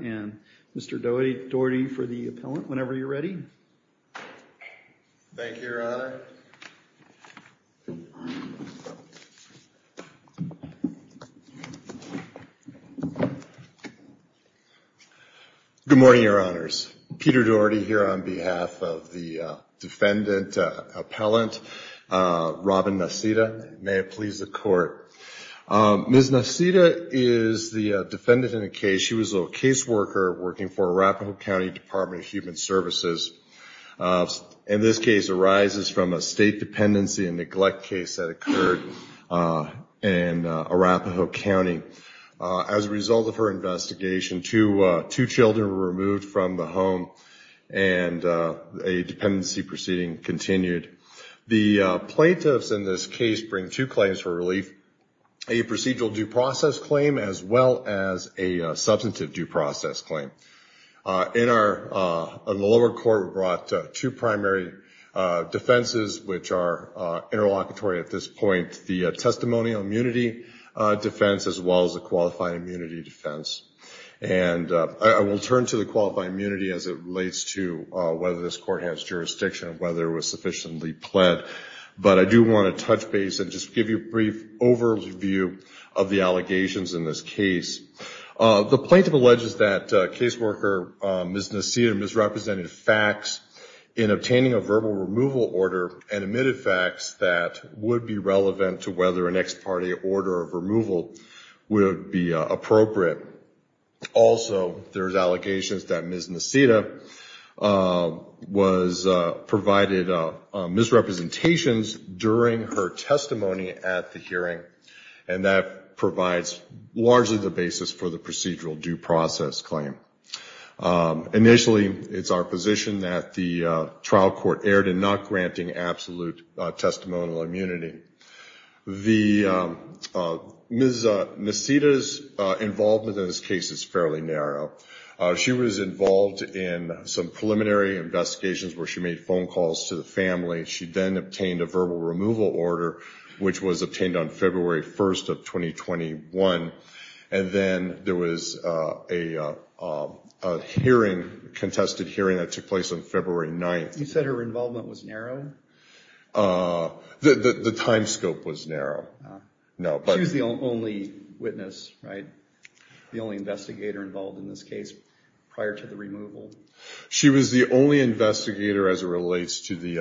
and Mr. Daugherty for the appellant, whenever you're ready. Thank you, Your Honor. Good morning, Your Honors. Peter Daugherty here on behalf of the defendant appellant, Robin Niceta. May it please the court. Ms. Niceta is the defendant in the case. She was a caseworker working for Arapahoe County Department of Human Services. In this case arises from a state dependency and neglect case that occurred in Arapahoe County. As a result of her investigation, two children were removed from the home and a dependency proceeding continued. The plaintiffs in this case bring two claims for relief, a procedural due process claim as well as a substantive due process claim. In the lower court, we brought two primary defenses which are interlocutory at this point, the testimonial immunity defense as well as the qualified immunity defense. And I will turn to the qualified immunity as it relates to whether this court has jurisdiction, whether it was sufficiently pled. But I do want to touch base and just give you a brief overview of the allegations in this case. The plaintiff alleges that caseworker Ms. Niceta misrepresented facts in obtaining a verbal removal order and admitted facts that would be relevant to whether an ex parte order of removal would be appropriate. Also, there's allegations that Ms. Niceta was provided misrepresentations during her testimony at the hearing and that provides largely the basis for the procedural due process claim. Initially, it's our position that the trial court erred in not granting absolute testimonial immunity. Ms. Niceta's involvement in this case was not a direct result of her testimony. Her involvement in this case is fairly narrow. She was involved in some preliminary investigations where she made phone calls to the family. She then obtained a verbal removal order which was obtained on February 1st of 2021. And then there was a hearing, a contested hearing that took place on February 9th. You said her involvement was narrow? The time scope was narrow. She was the only witness, right? The only investigator involved in this case prior to the removal? She was the only investigator as it relates to the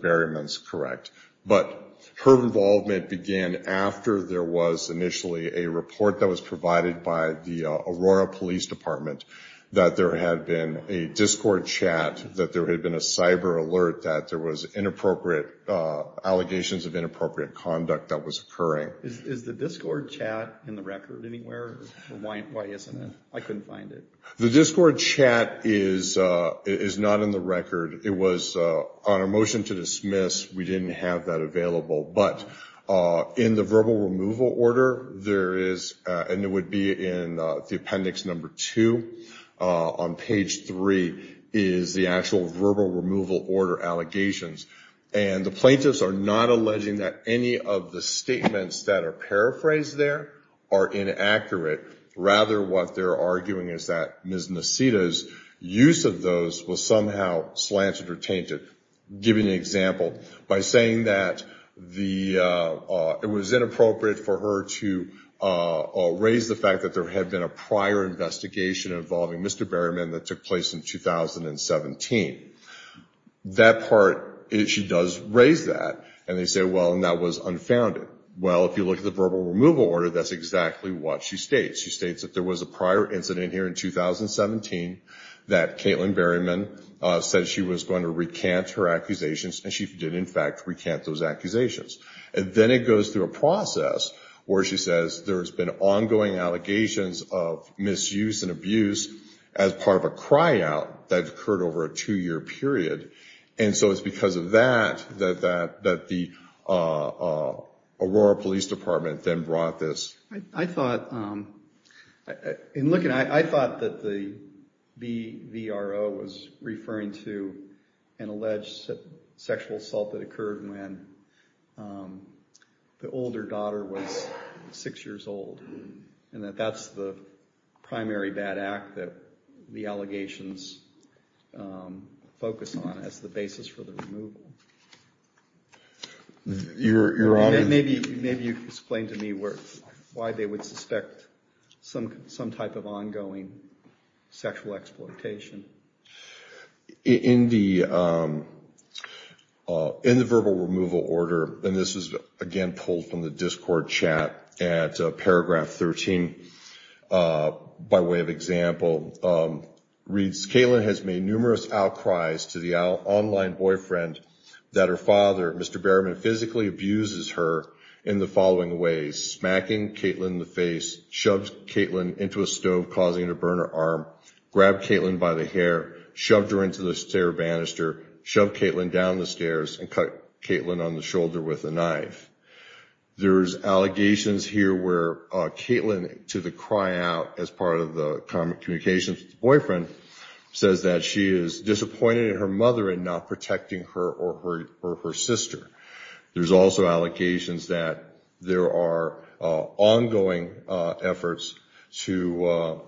buryments, correct. But her involvement began after there was initially a report that was provided by the Aurora Police Department that there had been a discord chat, that there had been a cyber alert, that there was interference. That there had been inappropriate allegations of inappropriate conduct that was occurring. Is the discord chat in the record anywhere? Why isn't it? I couldn't find it. The discord chat is not in the record. It was on a motion to dismiss. We didn't have that available. But in the verbal removal order, there is, and it would be in the appendix number two on page three, is the actual verbal removal order allegations. And the plaintiffs are not alleging that any of the statements that are paraphrased there are inaccurate. Rather, what they're arguing is that Ms. Nasita's use of those was somehow slanted or tainted. Giving an example, by saying that it was inappropriate for her to raise the fact that there had been a prior investigation involving Mr. Berryman that took place in 2017. That part, she does raise that, and they say, well, and that was unfounded. Well, if you look at the verbal removal order, that's exactly what she states. She states that there was a prior incident here in 2017 that Caitlin Berryman said she was going to recant her accusations, and she did, in fact, recant those accusations. And then it goes through a process where she says there's been ongoing allegations of misuse and abuse as part of a cryout that occurred over a two-year period. And so it's because of that that the Aurora Police Department then brought this. I thought, in looking at it, I thought that the BVRO was referring to an alleged sexual assault that occurred when the older daughter was six years old. And that that's the primary bad act that the allegations focus on as the basis for the removal. Maybe you can explain to me why they would suspect some type of ongoing sexual exploitation. In the verbal removal order, and this is, again, pulled from the Discord chat at Paragraph 2, Paragraph 13, by way of example, reads, Caitlin has made numerous outcries to the online boyfriend that her father, Mr. Berryman, physically abuses her in the following ways. Smacking Caitlin in the face, shoved Caitlin into a stove causing her to burn her arm, grabbed Caitlin by the hair, shoved her into the stair banister, shoved Caitlin down the stairs, and cut Caitlin on the shoulder with a knife. There's allegations here where Caitlin, to the cry out as part of the communications with the boyfriend, says that she is disappointed in her mother in not protecting her or her sister. There's also allegations that there are ongoing efforts to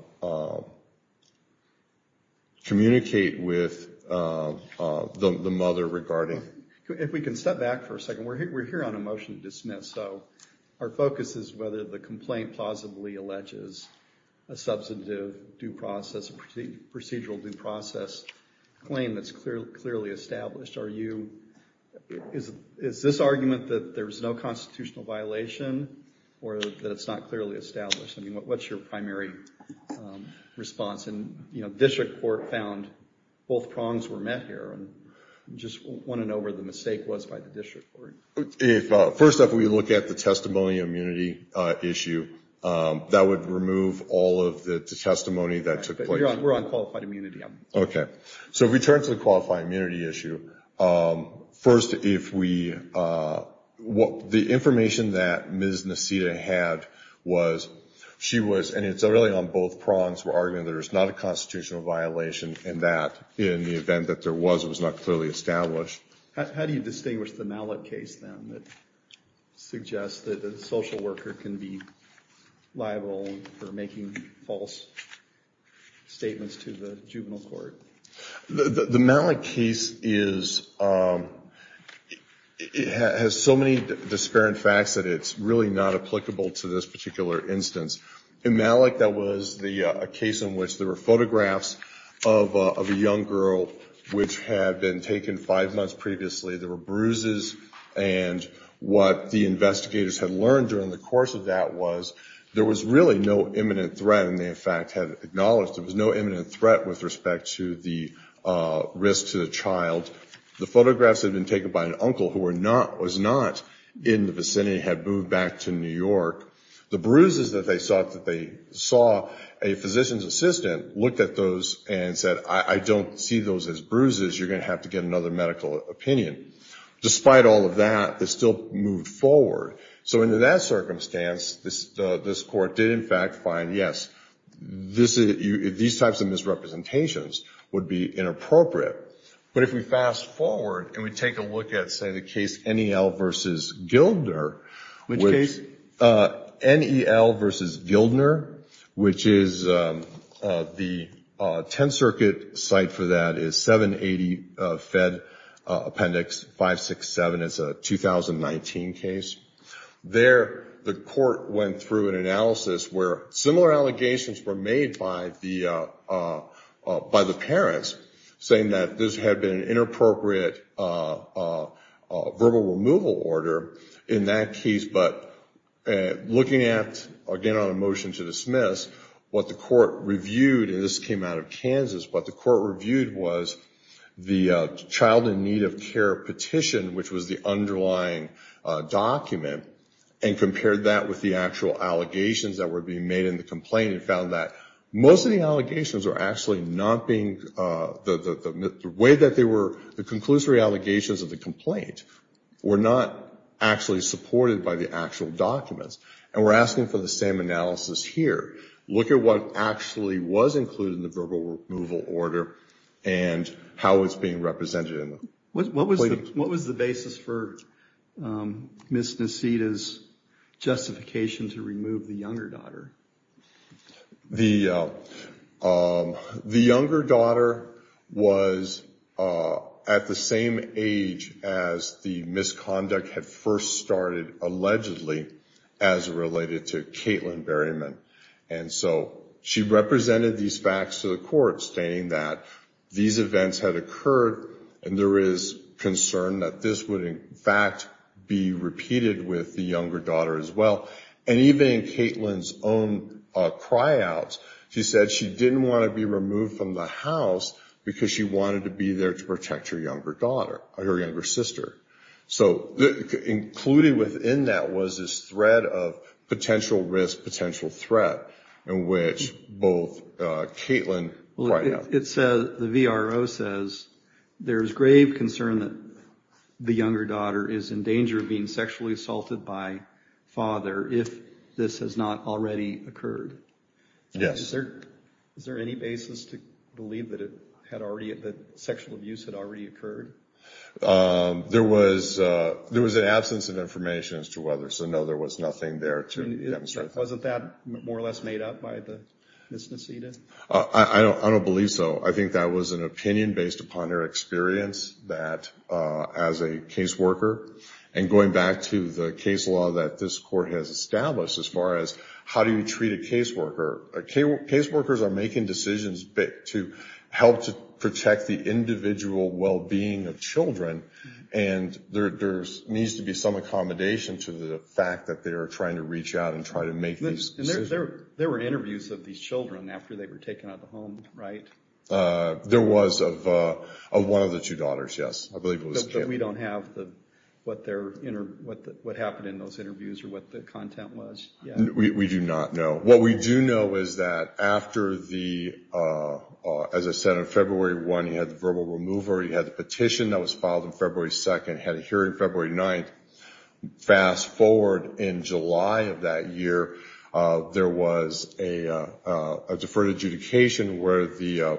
communicate with the mother regarding... If we can step back for a second, we're here on a motion to dismiss, so our focus is whether the complaint plausibly alleges a substantive due process, a procedural due process claim that's clearly established. Is this argument that there's no constitutional violation or that it's not clearly established? What's your primary response? District Court found both prongs were met here. I just want to know where the mistake was by the District Court. First, if we look at the testimony immunity issue, that would remove all of the testimony that took place. We're on qualified immunity. So if we turn to the qualified immunity issue, first if we... The information that Ms. Nasita had was she was... And it's really on both prongs. We're arguing that there's not a constitutional violation and that in the event that there was, it was not clearly established. How do you distinguish the Mallett case, then, that suggests that a social worker can be liable for making false statements to the juvenile court? The Mallett case has so many disparate facts that it's really not applicable to this particular instance. In Mallett, that was a case in which there were photographs of a young girl which had been taken five months previously. There were bruises, and what the investigators had learned during the course of that was there was really no imminent threat. There was no imminent threat with respect to the risk to the child. The photographs had been taken by an uncle who was not in the vicinity, had moved back to New York. The bruises that they saw, a physician's assistant looked at those and said, I don't see those as bruises. You're going to have to get another medical opinion. Despite all of that, it still moved forward. So in that circumstance, this court did, in fact, find, yes, these types of misrepresentations would be inappropriate. But if we fast forward and we take a look at, say, the case NEL versus Gildner, which NEL versus Gildner, which is the Tenth Circuit site for that is 780 Fed Appendix 7. It's a 2019 case. There, the court went through an analysis where similar allegations were made by the parents, saying that this had been an inappropriate verbal removal order in that case. But looking at, again, on a motion to dismiss, what the court reviewed, and this came out of Kansas, what the court reviewed was the child in need of care petition, which was the underlying document, and compared that with the actual allegations that were being made in the complaint and found that most of the allegations were actually not being, the way that they were, the conclusory allegations of the complaint were not actually supported by the actual documents. And we're asking for the same analysis here. Look at what actually was included in the verbal removal order and how it's being represented. What was the basis for Ms. Nasita's justification to remove the younger daughter? The younger daughter was at the same age as the misconduct had first started, allegedly, as related to Caitlin Berryman. And so she represented these facts to the court, stating that these events had occurred and there is concern that this would, in fact, be repeated with the younger daughter as well. And even in Caitlin's own cryouts, she said she didn't want to be removed from the house because she wanted to be there to protect her younger daughter, her younger sister. So included within that was this thread of potential risk, potential threat, in which both Caitlin cried out. The VRO says there's grave concern that the younger daughter is in danger of being sexually assaulted by father if this has not already occurred. Yes. Is there any basis to believe that sexual abuse had already occurred? There was an absence of information as to whether, so no, there was nothing there to demonstrate that. Wasn't that more or less made up by Ms. Nasita? I don't believe so. I think that was an opinion based upon her experience as a caseworker. And going back to the case law that this court has established as far as how do you treat a caseworker, caseworkers are making decisions to help to protect the individual well-being of children, and there needs to be some accommodation to the fact that they are trying to reach out and try to make these decisions. There were interviews of these children after they were taken out of the home, right? There was of one of the two daughters, yes. But we don't have what happened in those interviews or what the content was yet? We do not know. What we do know is that after the, as I said, on February 1 he had the verbal remover, he had the petition that was filed on February 2nd, had a hearing February 9th. Fast forward in July of that year, there was a deferred adjudication where the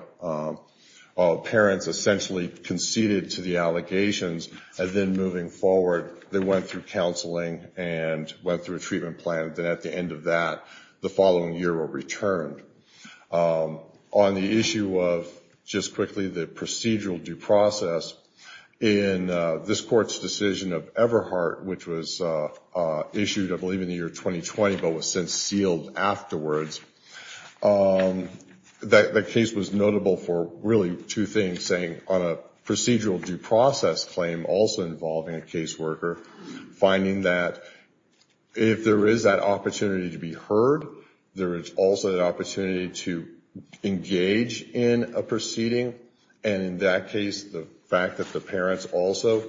parents essentially conceded to the allegations and then moving forward they went through counseling and went through a treatment plan. Then at the end of that, the following year were returned. On the issue of just quickly the procedural due process, in this court's decision of Everhart, which was issued I believe in the year 2020 but was since sealed afterwards, the case was notable for really two things, saying on a procedural due process claim also involving a caseworker, finding that if there is that opportunity to be heard, there is also an opportunity to engage in a proceeding, and in that case the fact that the parents also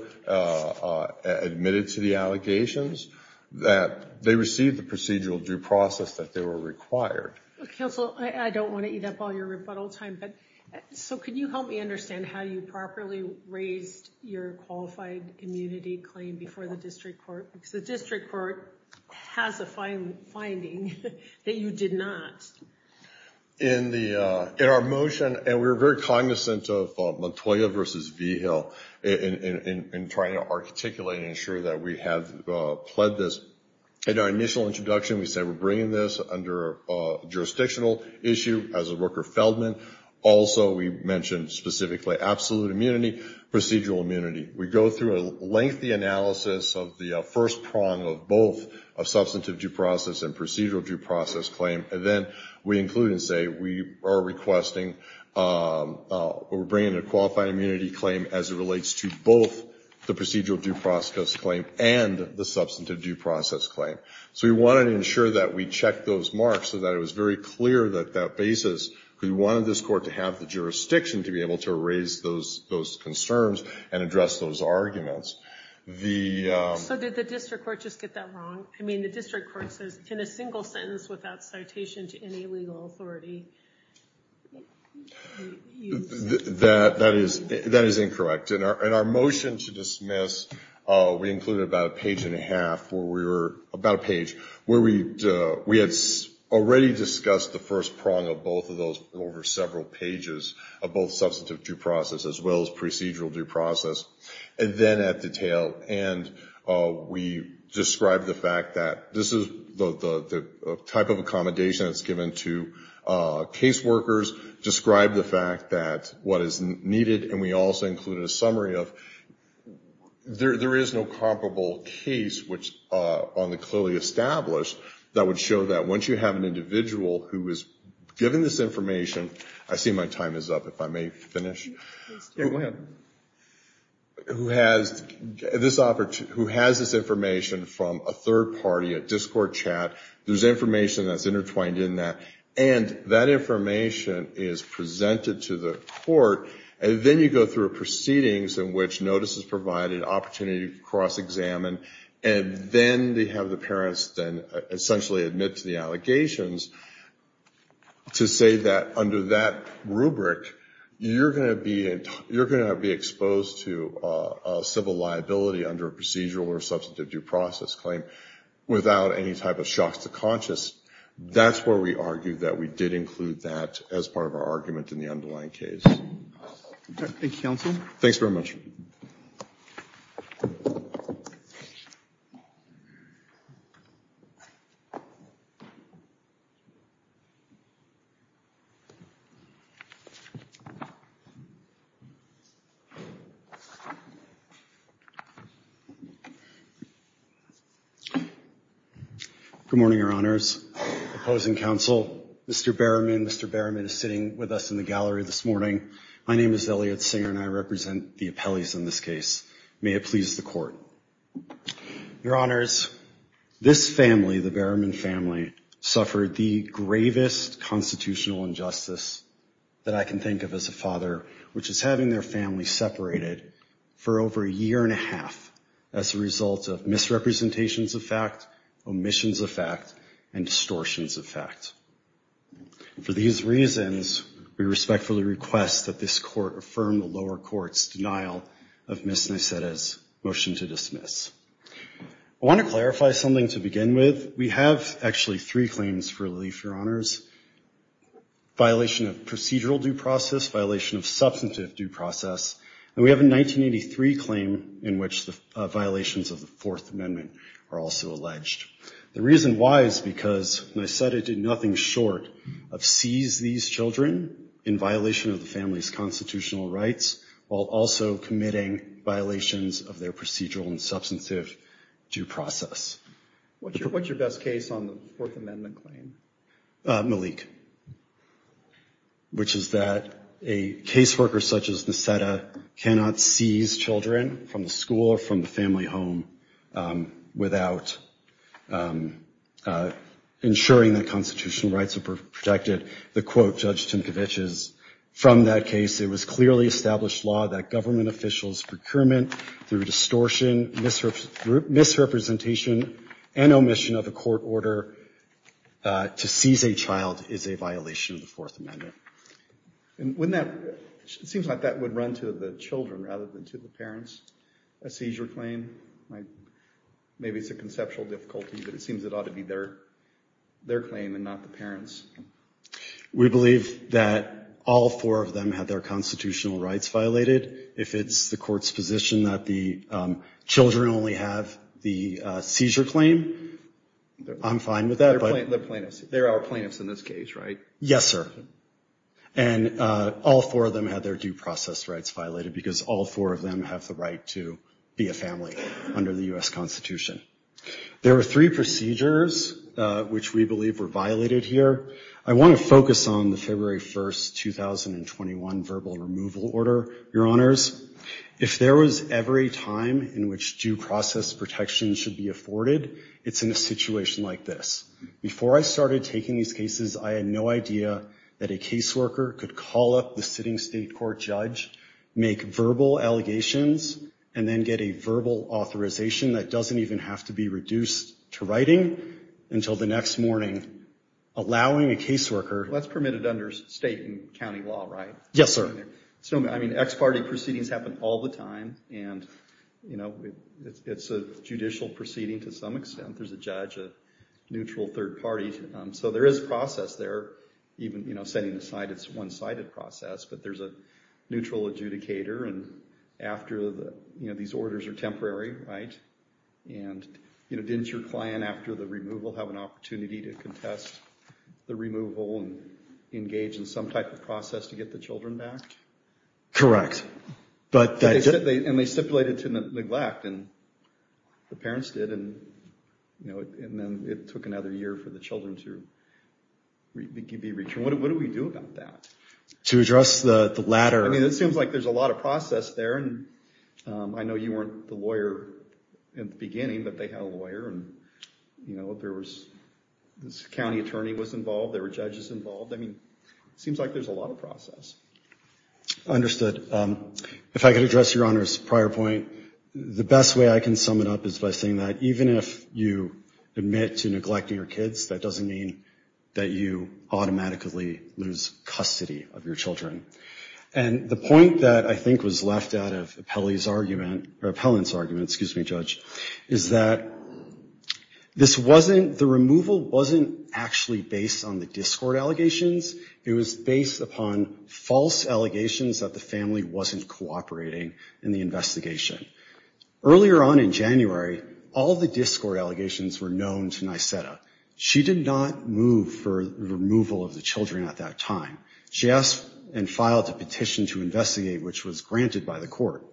admitted to the allegations, that they received the procedural due process that they were required. Counsel, I don't want to eat up all your rebuttal time, because the district court has a finding that you did not. In our motion, and we were very cognizant of Montoya versus Vigil in trying to articulate and ensure that we have pled this. In our initial introduction we said we're bringing this under a jurisdictional issue as a Rooker-Feldman. Also we mentioned specifically absolute immunity, procedural immunity. We go through a lengthy analysis of the first prong of both a substantive due process and procedural due process claim, and then we include and say we are requesting or bringing a qualified immunity claim as it relates to both the procedural due process claim and the substantive due process claim. So we wanted to ensure that we checked those marks so that it was very clear that that basis, because we wanted this court to have the jurisdiction to be able to raise those concerns and address those arguments. So did the district court just get that wrong? I mean the district court says in a single sentence without citation to any legal authority. That is incorrect. In our motion to dismiss we included about a page and a half where we were, about a page, where we had already discussed the first prong of both of those over several pages of both substantive due process as well as procedural due process. And then at the tail end we described the fact that this is the type of accommodation that's given to case workers, described the fact that what is needed, and we also included a summary of, there is no comparable case on the clearly established that would show that once you have an individual who is given this information, I see my time is up, if I may finish. Who has this information from a third party, a discord chat, there's information that's intertwined in that, and that information is presented to the court, and then you go through proceedings in which notice is provided, opportunity to cross-examine, and then they have the parents then essentially admit to the allegations to say that under that rubric, you're going to be exposed to civil liability under a procedural or substantive due process claim without any type of shocks to conscience. That's where we argue that we did include that as part of our argument in the underlying case. Thank you, counsel. Opposing counsel, Mr. Berriman, Mr. Berriman is sitting with us in the gallery this morning. My name is Elliot Singer and I represent the appellees in this case. May it please the court. Your honors, this family, the Berriman family, suffered the gravest constitutional injustice that I can think of as a father, which is having their family separated for over a year and a half as a result of misrepresentations of fact, omissions of fact, and distortions of fact. For these reasons, we respectfully request that this court affirm the lower court's denial of Ms. Nyseta's motion to dismiss. I want to clarify something to begin with. We have actually three claims for relief, your honors, violation of procedural due process, violation of substantive due process, and we have a 1983 claim in which the violations of the Fourth Amendment are also alleged. The reason why is because Nyseta did nothing short of seize these children in violation of the family's constitutional rights, while also committing violations of their procedural and substantive due process. What's your best case on the Fourth Amendment claim? Malik, which is that a caseworker such as Nyseta cannot seize children from the school or from the family home without ensuring that constitutional rights are protected. The quote, Judge Tinkovich's, from that case, it was clearly established law that government officials' procurement through distortion, misrepresentation, and omission of a court order to seize a child is a violation of the Fourth Amendment. And wouldn't that, it seems like that would run to the children rather than to the parents, a seizure claim? Maybe it's a conceptual difficulty, but it seems it ought to be their claim and not the parents. We believe that all four of them had their constitutional rights violated. If it's the court's position that the children only have the seizure claim, I'm fine with that. And all four of them had their due process rights violated because all four of them have the right to be a family under the U.S. Constitution. There are three procedures which we believe were violated here. I want to focus on the February 1st, 2021 verbal removal order, Your Honors. If there was every time in which due process protection should be afforded, it's in a situation like this. Before I started taking these cases, I had no idea that a caseworker could call up the sitting state court judge, make verbal allegations, and then get a verbal authorization that doesn't even have to be reduced to writing until the next morning, allowing a caseworker... Well, that's permitted under state and county law, right? Yes, sir. I mean, ex parte proceedings happen all the time, and it's a judicial proceeding to some extent. There's a judge, a neutral third party. So there is a process there, even setting aside its one-sided process, but there's a neutral adjudicator, and after these orders are issued, it's temporary, right? And didn't your client, after the removal, have an opportunity to contest the removal and engage in some type of process to get the children back? Correct. And they stipulated to neglect, and the parents did, and then it took another year for the children to be returned. What do we do about that? To address the latter... I mean, it seems like there's a lot of process there, and I know you weren't the lawyer in the beginning, but they had a lawyer, and, you know, there was...this county attorney was involved, there were judges involved. I mean, it seems like there's a lot of process. Understood. If I could address Your Honor's prior point, the best way I can sum it up is by saying that even if you admit to neglecting your children, and the point that I think was left out of Appellant's argument, is that this wasn't...the removal wasn't actually based on the discord allegations, it was based upon false allegations that the family wasn't cooperating in the investigation. Earlier on in January, all of the discord allegations were known to Nyseta. She did not move for the removal of the children at that time. She asked, well, what are the allegations? And filed a petition to investigate, which was granted by the court.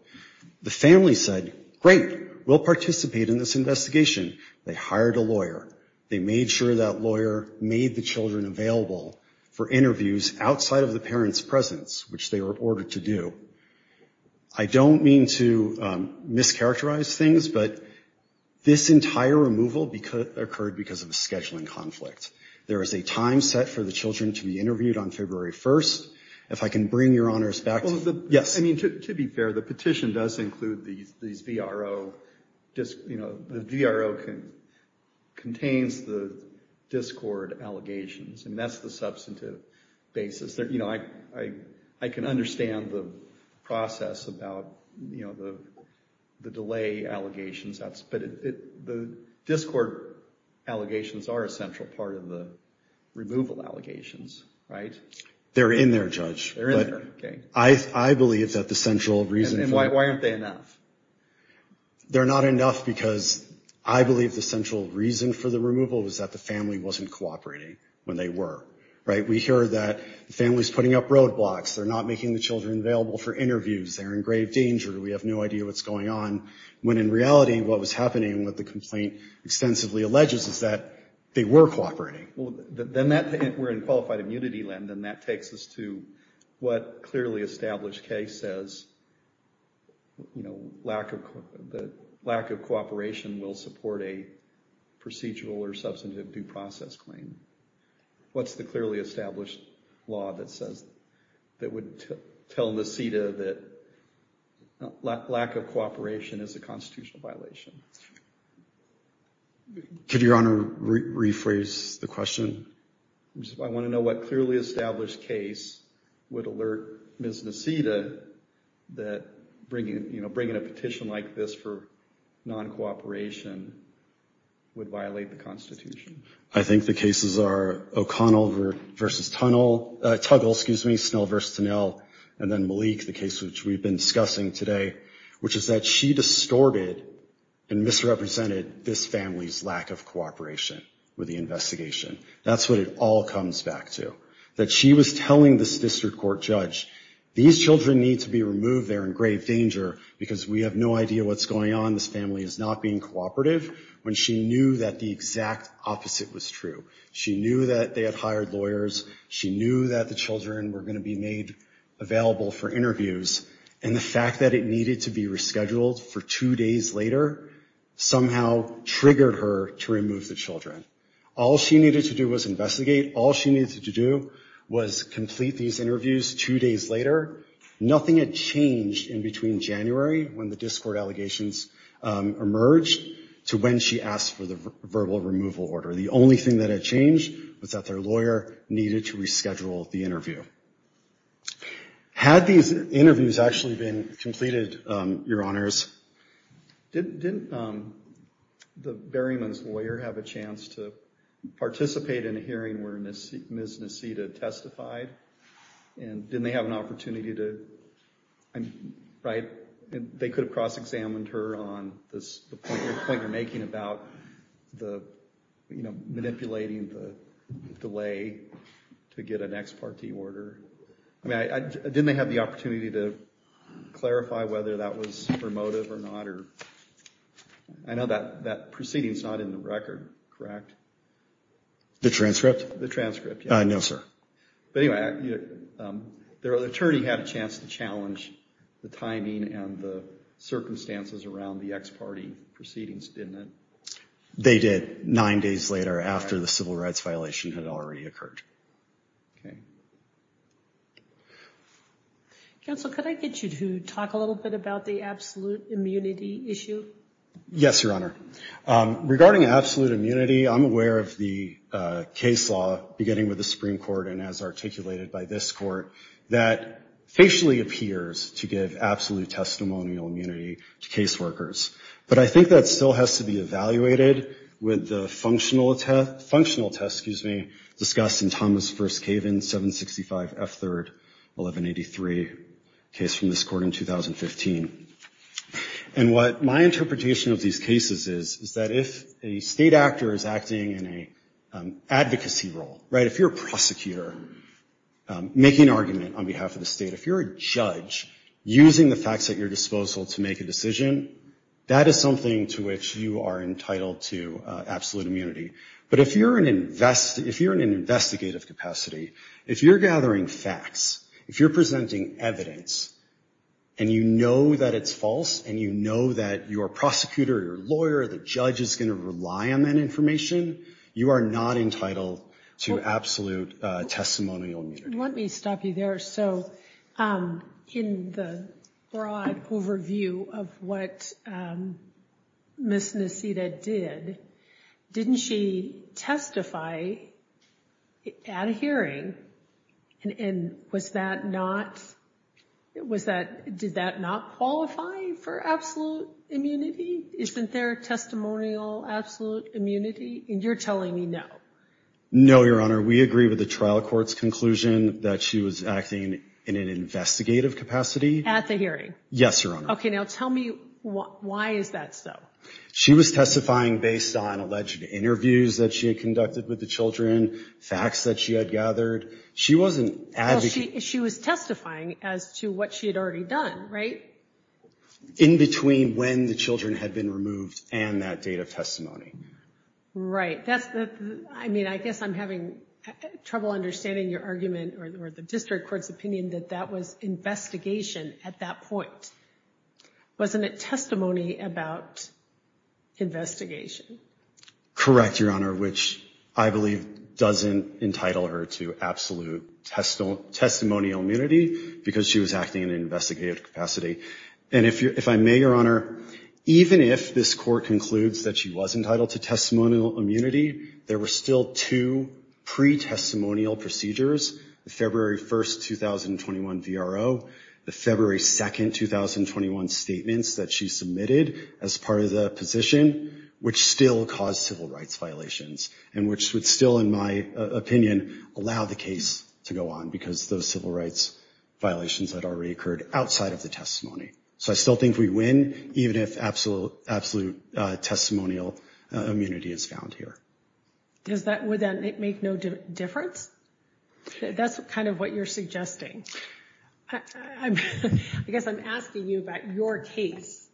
The family said, great, we'll participate in this investigation. They hired a lawyer. They made sure that lawyer made the children available for interviews outside of the parents' presence, which they were ordered to do. I don't mean to mischaracterize things, but this entire removal occurred because of a scheduling conflict. There is a time set for the children to be interviewed on February 1st. If I can bring Your Honor's back to... Well, to be fair, the petition does include these VRO...the VRO contains the discord allegations, and that's the substantive basis. I can understand the process about the delay allegations, but the discord allegations are a central part of the removal allegations. They're in there, Judge. I believe that the central reason... And why aren't they enough? They're not enough because I believe the central reason for the removal was that the family wasn't cooperating when they were. We hear that the family's putting up roadblocks. They're not making the children available for interviews. They're in grave danger. We have no idea what's going on, when in reality, what was happening and what the complaint extensively alleges is that they were cooperating. Then that...we're in qualified immunity land, and that takes us to what clearly established case says, you know, lack of cooperation will support a procedural or substantive due process claim. What's the clearly established law that says...that would tell NACEDA that lack of cooperation is a constitutional violation? Could Your Honor rephrase the question? I want to know what clearly established case would alert Ms. NACEDA that bringing a petition like this for non-cooperation would violate the Constitution. I think the cases are O'Connell v. Tuggle, Snell v. Tonell, and then Malik, the case which we've been discussing today, which is that she distorted and misrepresented this family's lack of cooperation with the investigation. That's what it all comes back to. That she was telling this district court judge, these children need to be removed, they're in grave danger, because we have no idea what's going on, this family is not being cooperative, when she knew that the exact opposite was true. She knew that they had hired lawyers, she knew that the children were going to be made available for interviews, and the fact that it needed to be rescheduled for two years, that was a mistake. The fact that it needed to be rescheduled for two days later, somehow triggered her to remove the children. All she needed to do was investigate, all she needed to do was complete these interviews two days later. Nothing had changed in between January, when the discord allegations emerged, to when she asked for the verbal removal order. The only thing that had changed was that their lawyer needed to reschedule the interview. Didn't the Berryman's lawyer have a chance to participate in a hearing where Ms. Nacita testified? And didn't they have an opportunity to, right, they could have cross-examined her on the point you're making about manipulating the delay to get an ex-partee order? I mean, didn't they have the opportunity to clarify whether that was, you know, a mistake? I know that that proceeding is not in the record, correct? The transcript? The transcript, yes. No, sir. But anyway, their attorney had a chance to challenge the timing and the circumstances around the ex-partee proceedings, didn't it? They did, nine days later, after the civil rights violation had already occurred. Okay. Counsel, could I get you to talk a little bit about the absolution of the absolute immunity issue? Yes, Your Honor. Regarding absolute immunity, I'm aware of the case law, beginning with the Supreme Court and as articulated by this Court, that facially appears to give absolute testimonial immunity to caseworkers. But I think that still has to be evaluated with the functional test, excuse me, discussed in Thomas v. Kaven, 765 F. 3rd, 1183, case from this Court in 2015. And I think that what my interpretation of these cases is, is that if a state actor is acting in an advocacy role, right, if you're a prosecutor making an argument on behalf of the state, if you're a judge using the facts at your disposal to make a decision, that is something to which you are entitled to absolute immunity. But if you're in an investigative capacity, if you're gathering facts, if you're presenting evidence, and you know that it's false, and you know that your prosecutor, your lawyer, the judge is going to rely on that information, you are not entitled to absolute testimonial immunity. Let me stop you there. So in the broad overview of what Ms. Nassita did, didn't she testify at a hearing, and was that not, was that, did that not qualify as an absolute testimonial immunity? Yes, Your Honor. Did that not qualify for absolute immunity? Isn't there a testimonial absolute immunity? And you're telling me no. No, Your Honor. We agree with the trial court's conclusion that she was acting in an investigative capacity. At the hearing? Yes, Your Honor. Okay, now tell me why is that so? She was testifying based on alleged interviews that she had conducted with the children, facts that she had gathered. She wasn't advocating. Well, she was testifying as to what she had already done, right? She was testifying based on in between when the children had been removed and that date of testimony. Right. That's the, I mean, I guess I'm having trouble understanding your argument or the district court's opinion that that was investigation at that point. Wasn't it testimony about investigation? Correct, Your Honor, which I believe doesn't entitle her to absolute testimonial immunity because she was acting in an investigative capacity. And if I may, Your Honor, even if this court concludes that she was entitled to testimonial immunity, there were still two pretestimonial procedures, the February 1st, 2021 VRO, the February 2nd, 2021 statements that she submitted as part of the position, which still caused civil rights violations and which would still, in my opinion, allow the case to go on because those civil rights violations had already occurred outside of the testimony. So I still think we win even if absolute testimonial immunity is found here. Does that, would that make no difference? That's kind of what you're suggesting. I guess I'm asking you about your case.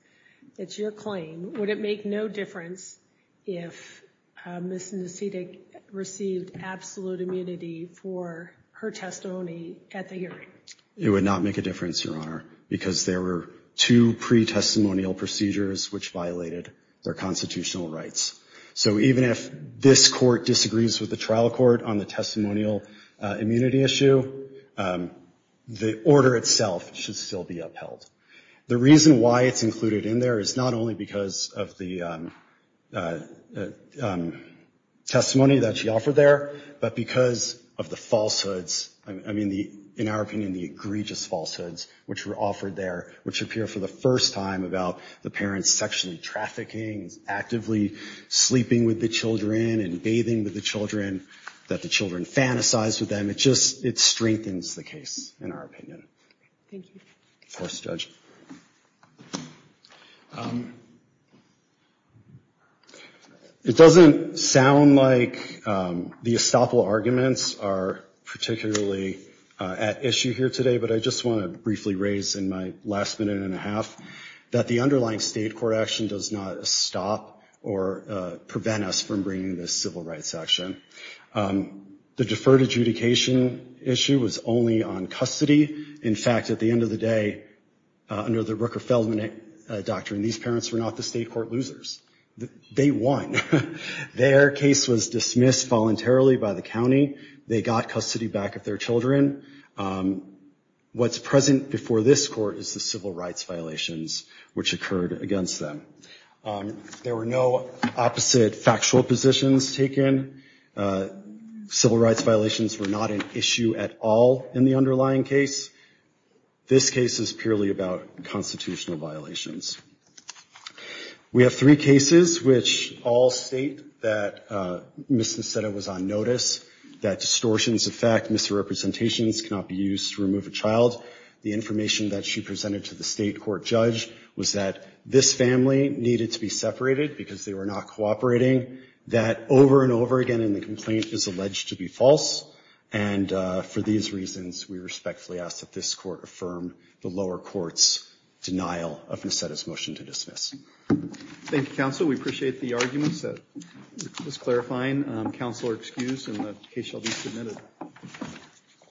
It's your claim. Would it make no difference if Ms. Nacidic received absolute immunity for her testimony at the hearing? Would that make a difference? It would not make a difference, Your Honor, because there were two pretestimonial procedures which violated their constitutional rights. So even if this court disagrees with the trial court on the testimonial immunity issue, the order itself should still be upheld. The reason why it's included in there is not only because of the testimony that she offered there, but because of the egregious falsehoods which were offered there, which appear for the first time about the parents sexually trafficking, actively sleeping with the children and bathing with the children, that the children fantasize with them. It just, it strengthens the case, in our opinion. Thank you. Of course, Judge. It doesn't sound like the estoppel arguments are particularly at issue. I mean, I think the case is at issue here today, but I just want to briefly raise in my last minute and a half that the underlying state court action does not stop or prevent us from bringing this civil rights action. The deferred adjudication issue was only on custody. In fact, at the end of the day, under the Rooker-Feldman doctrine, these parents were not the state court losers. They won. Their case was dismissed voluntarily by the county. They got custody back of their children. What's present before this court is the civil rights violations, which occurred against them. There were no opposite factual positions taken. Civil rights violations were not an issue at all in the underlying case. This case is purely about constitutional violations. We have three cases which all state that Ms. Niseta was on notice. We have three cases which all state that distortions of fact, misrepresentations cannot be used to remove a child. The information that she presented to the state court judge was that this family needed to be separated because they were not cooperating, that over and over again in the complaint is alleged to be false, and for these reasons, we respectfully ask that this court affirm the lower court's denial of Ms. Niseta's motion to dismiss. Thank you, counsel. We appreciate the arguments. Just clarifying, counsel are excused, and the case shall be submitted.